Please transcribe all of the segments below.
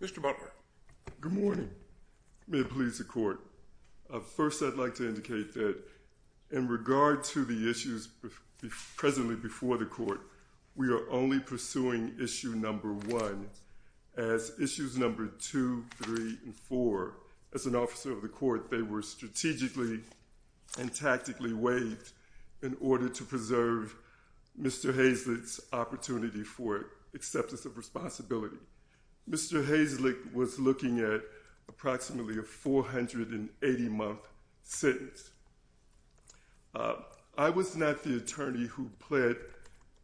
Mr. Butler, good morning, may it please the court, first I'd like to indicate that in court we are only pursuing issue number one. As issues number two, three, and four, as an officer of the court, they were strategically and tactically waived in order to preserve Mr. Hayslette's opportunity for acceptance of responsibility. Mr. Hayslette was looking at approximately a 480-month sentence. I was not the attorney who pled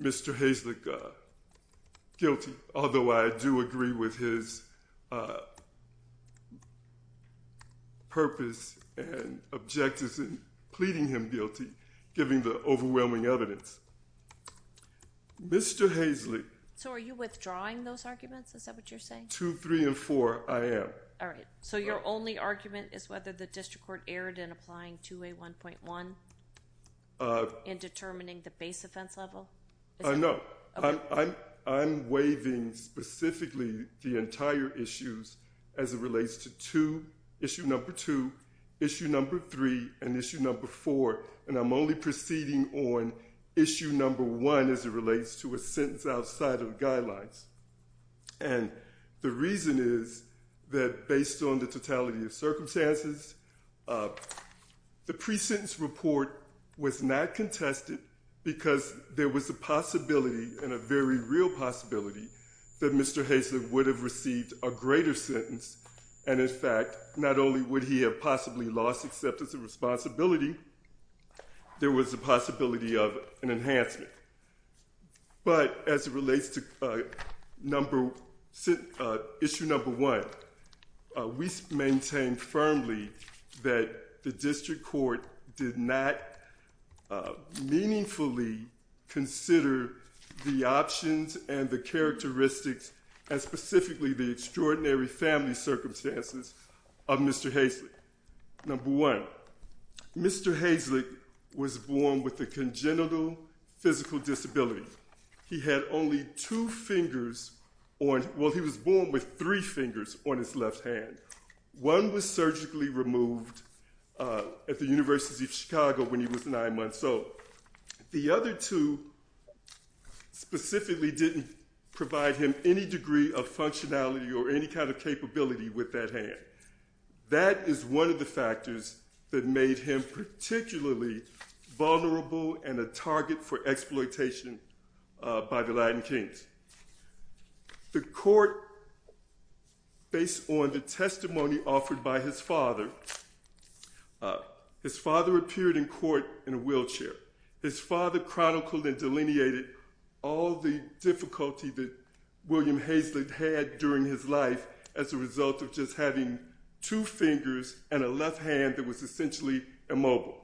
Mr. Hayslette guilty, although I do agree with his purpose and objectives in pleading him guilty, given the overwhelming evidence. Mr. Hayslette So are you withdrawing those arguments, is that what you're saying? Two, three, and four, I am. All right, so your only argument is whether the district court erred in applying 2A1.1 in determining the base offense level? No, I'm waiving specifically the entire issues as it relates to two, issue number two, issue number three, and issue number four, and I'm only proceeding on issue number one as it relates to a sentence outside of the guidelines. And the reason is that based on the totality of circumstances, the pre-sentence report was not contested because there was a possibility and a very real possibility that Mr. Hayslette would have received a greater sentence, and in fact, not only would he have possibly lost acceptance of responsibility, there was a possibility of an enhancement. But as it relates to issue number one, we maintain firmly that the district court did not meaningfully consider the options and the characteristics, and specifically the extraordinary family circumstances of Mr. Hayslette. Number one, Mr. Hayslette was born with a congenital physical disability. He had only two fingers on, well, he was born with three fingers on his left hand. One was surgically removed at the University of Chicago when he was nine months old. The other two specifically didn't provide him any degree of functionality or any kind of capability with that hand. That is one of the factors that made him particularly vulnerable and a target for exploitation by the Latin kings. The court, based on the testimony offered by his father, his father appeared in court in a wheelchair. His father chronicled and delineated all the difficulty that William Hayslette had during his life as a result of just having two fingers and a left hand that was essentially immobile.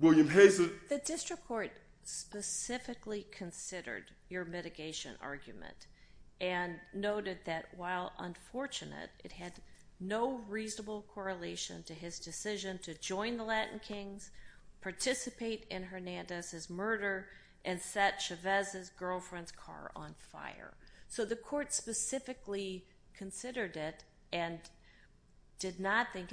The district court specifically considered your mitigation argument and noted that while unfortunate, it had no reasonable correlation to his decision to join the Latin kings, participate in Hernandez's murder, and set Chavez's girlfriend's car on fire. So the court specifically considered it and did not think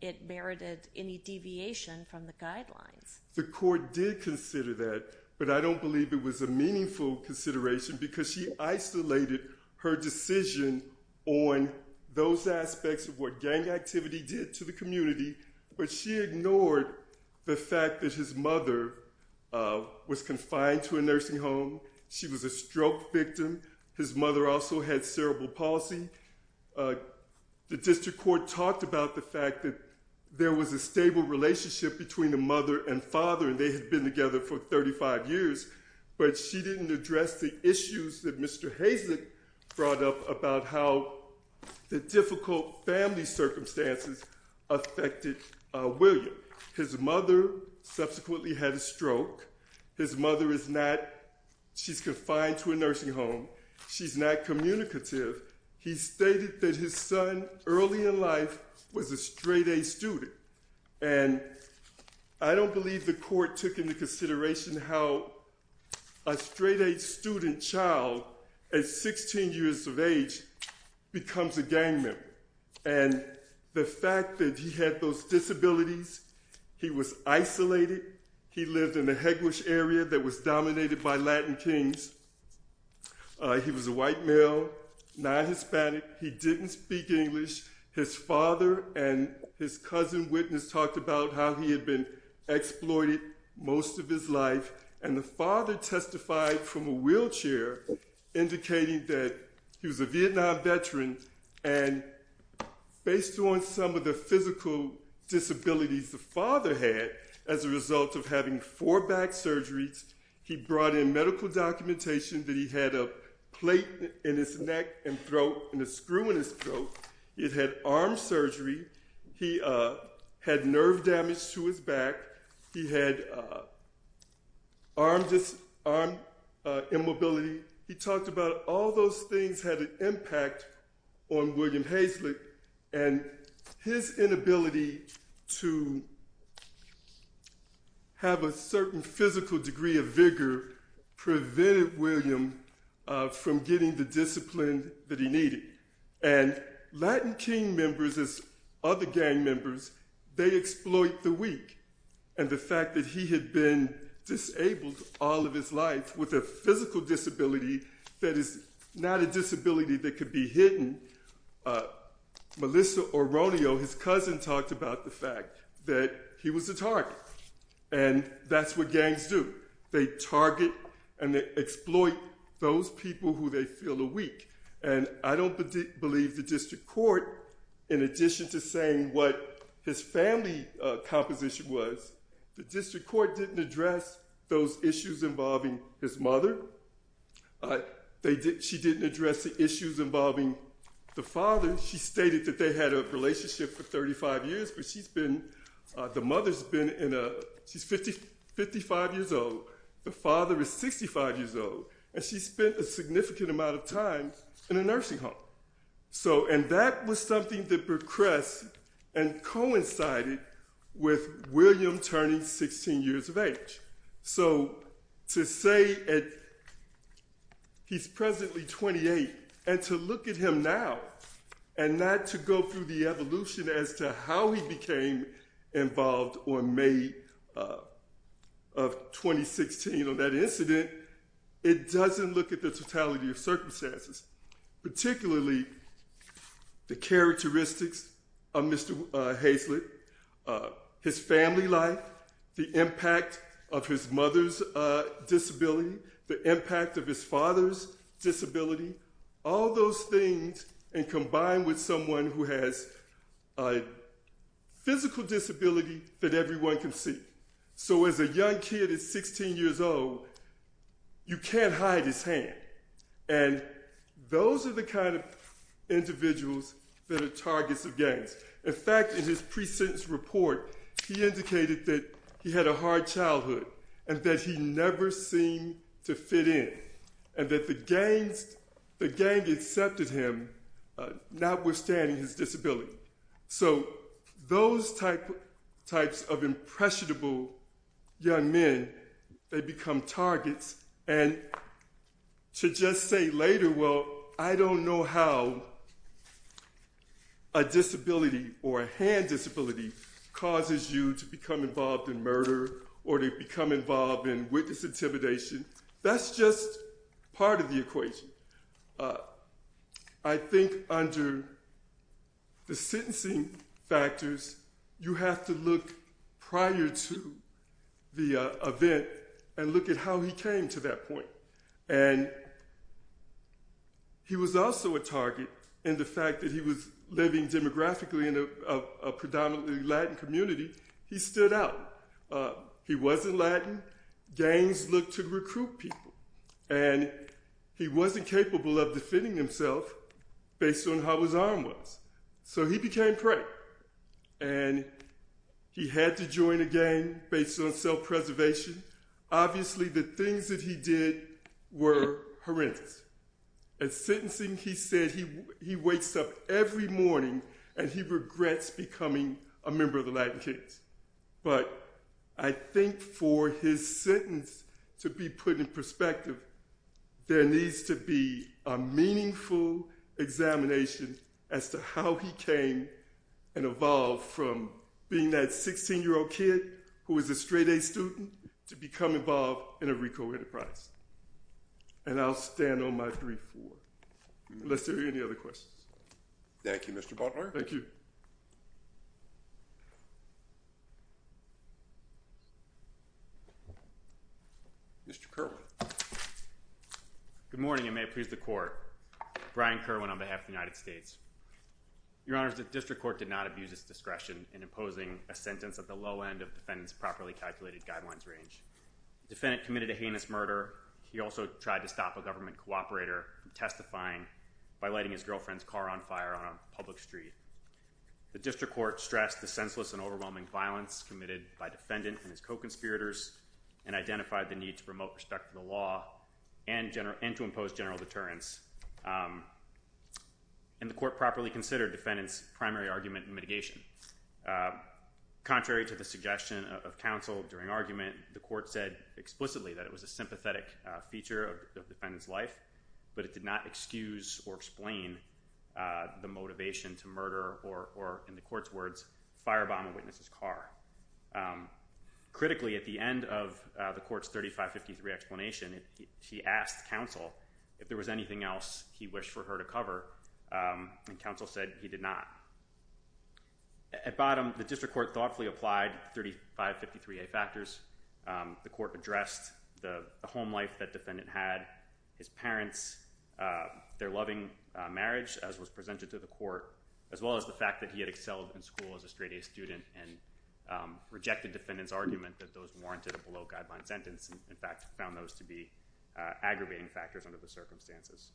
it merited any deviation from the guidelines. The court did consider that, but I don't believe it was a meaningful consideration because she isolated her decision on those aspects of what gang activity did to the community, but she ignored the fact that his mother was confined to a nursing home. She was a stroke victim. His mother also had cerebral palsy. The district court talked about the fact that there was a stable relationship between the mother and father and they had been together for 35 years, but she didn't address the issues that Mr. Hayslette brought up about how the difficult family circumstances affected William. His mother subsequently had a stroke. His mother is not, she's confined to a nursing home. She's not communicative. He stated that his son early in life was a straight A student. And I don't believe the court took into consideration how a straight A student child at 16 years of age becomes a gang member. And the fact that he had those disabilities, he was isolated. He lived in the Hegwash area that was dominated by Latin kings. He was a white male, non-Hispanic. He didn't speak English. His father and his cousin witness talked about how he had been exploited most of his life. And the father testified from a wheelchair indicating that he was a Vietnam veteran. And based on some of the physical disabilities the father had as a result of having four back surgeries, he brought in medical documentation that he had a plate in his neck and throat and a screw in his throat. He had arm surgery. He had nerve damage to his back. He had arm immobility. He talked about all those things had an impact on William Hazlitt. And his inability to have a certain physical degree of vigor prevented William from getting the discipline that he needed. And Latin king members as other gang members, they exploit the weak. And the fact that he had been disabled all of his life with a physical disability that is not a disability that could be hidden. Melissa Oronio, his cousin, talked about the fact that he was a target. And that's what gangs do. They target and they exploit those people who they feel are weak. And I don't believe the district court, in addition to saying what his family composition was, the district court didn't address those issues involving his mother. She didn't address the issues involving the father. She stated that they had a relationship for 35 years. But she's been, the mother's been in a, she's 55 years old. The father is 65 years old. And she spent a significant amount of time in a nursing home. So, and that was something that progressed and coincided with William turning 16 years of age. So, to say that he's presently 28, and to look at him now, and not to go through the evolution as to how he became involved on May of 2016 on that incident, it doesn't look at the totality of circumstances, particularly the characteristics of Mr. Hazlett, his family life, the impact of his mother's disability, the impact of his father's disability, all those things, and combine with someone who has a physical disability that everyone can see. So, as a young kid at 16 years old, you can't hide his hand. And those are the kind of individuals that are targets of gangs. In fact, in his pre-sentence report, he indicated that he had a hard childhood, and that he never seemed to fit in, and that the gangs, the gang accepted him, notwithstanding his disability. So, those types of impressionable young men, they become targets. And to just say later, well, I don't know how a disability, or a hand disability, causes you to become involved in murder, or to become involved in witness intimidation, that's just part of the equation. I think under the sentencing factors, you have to look prior to the event and look at how he came to that point. And he was also a target in the fact that he was living demographically in a predominantly Latin community. He stood out. He wasn't Latin. Gangs looked to recruit people. And he wasn't capable of defending himself based on how his arm was. So, he became prey. And he had to join a gang based on self-preservation. Obviously, the things that he did were horrendous. At sentencing, he said he wakes up every morning and he regrets becoming a member of the Latin kids. But I think for his sentence to be put in perspective, there needs to be a meaningful examination as to how he came and evolved from being that 16-year-old kid who was a straight-A student to become involved in a RICO enterprise. And I'll stand on my 3-4. Unless there are any other questions. Thank you, Mr. Butler. Thank you. Mr. Kerwin. Good morning, and may it please the Court. Brian Kerwin on behalf of the United States. Your Honors, the District Court did not abuse its discretion in imposing a sentence at the low end of the defendant's properly calculated guidelines range. The defendant committed a heinous murder. He also tried to stop a government cooperator from testifying by lighting his girlfriend's car on fire on a public street. The District Court stressed the senseless and overwhelming violence committed by the defendant and his co-conspirators and identified the need to promote respect for the law and to impose general deterrence. And the Court properly considered the defendant's primary argument in mitigation. Contrary to the suggestion of counsel during argument, the Court said explicitly that it was a sympathetic feature of the defendant's life, but it did not excuse or explain the motivation to murder or, in the Court's words, firebomb a witness's car. Critically, at the end of the Court's 3553 explanation, he asked counsel if there was anything else he wished for her to cover, and counsel said he did not. At bottom, the District Court thoughtfully applied 3553A factors. The Court addressed the home life that defendant had, his parents, their loving marriage, as was presented to the Court, as well as the fact that he had excelled in school as a straight-A student and rejected defendant's argument that those warranted a below-guideline sentence and, in fact, found those to be aggravating factors under the circumstances.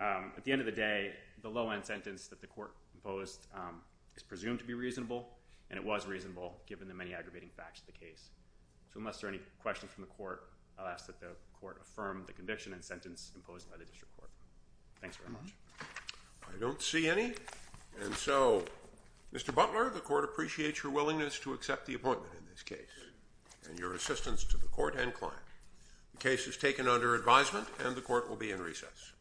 At the end of the day, the low-end sentence that the Court imposed is presumed to be reasonable, and it was reasonable given the many aggravating facts of the case. So unless there are any questions from the Court, I'll ask that the Court affirm the conviction and sentence imposed by the District Court. Thanks very much. I don't see any. And so, Mr. Butler, the Court appreciates your willingness to accept the appointment in this case and your assistance to the Court and client. The case is taken under advisement, and the Court will be in recess.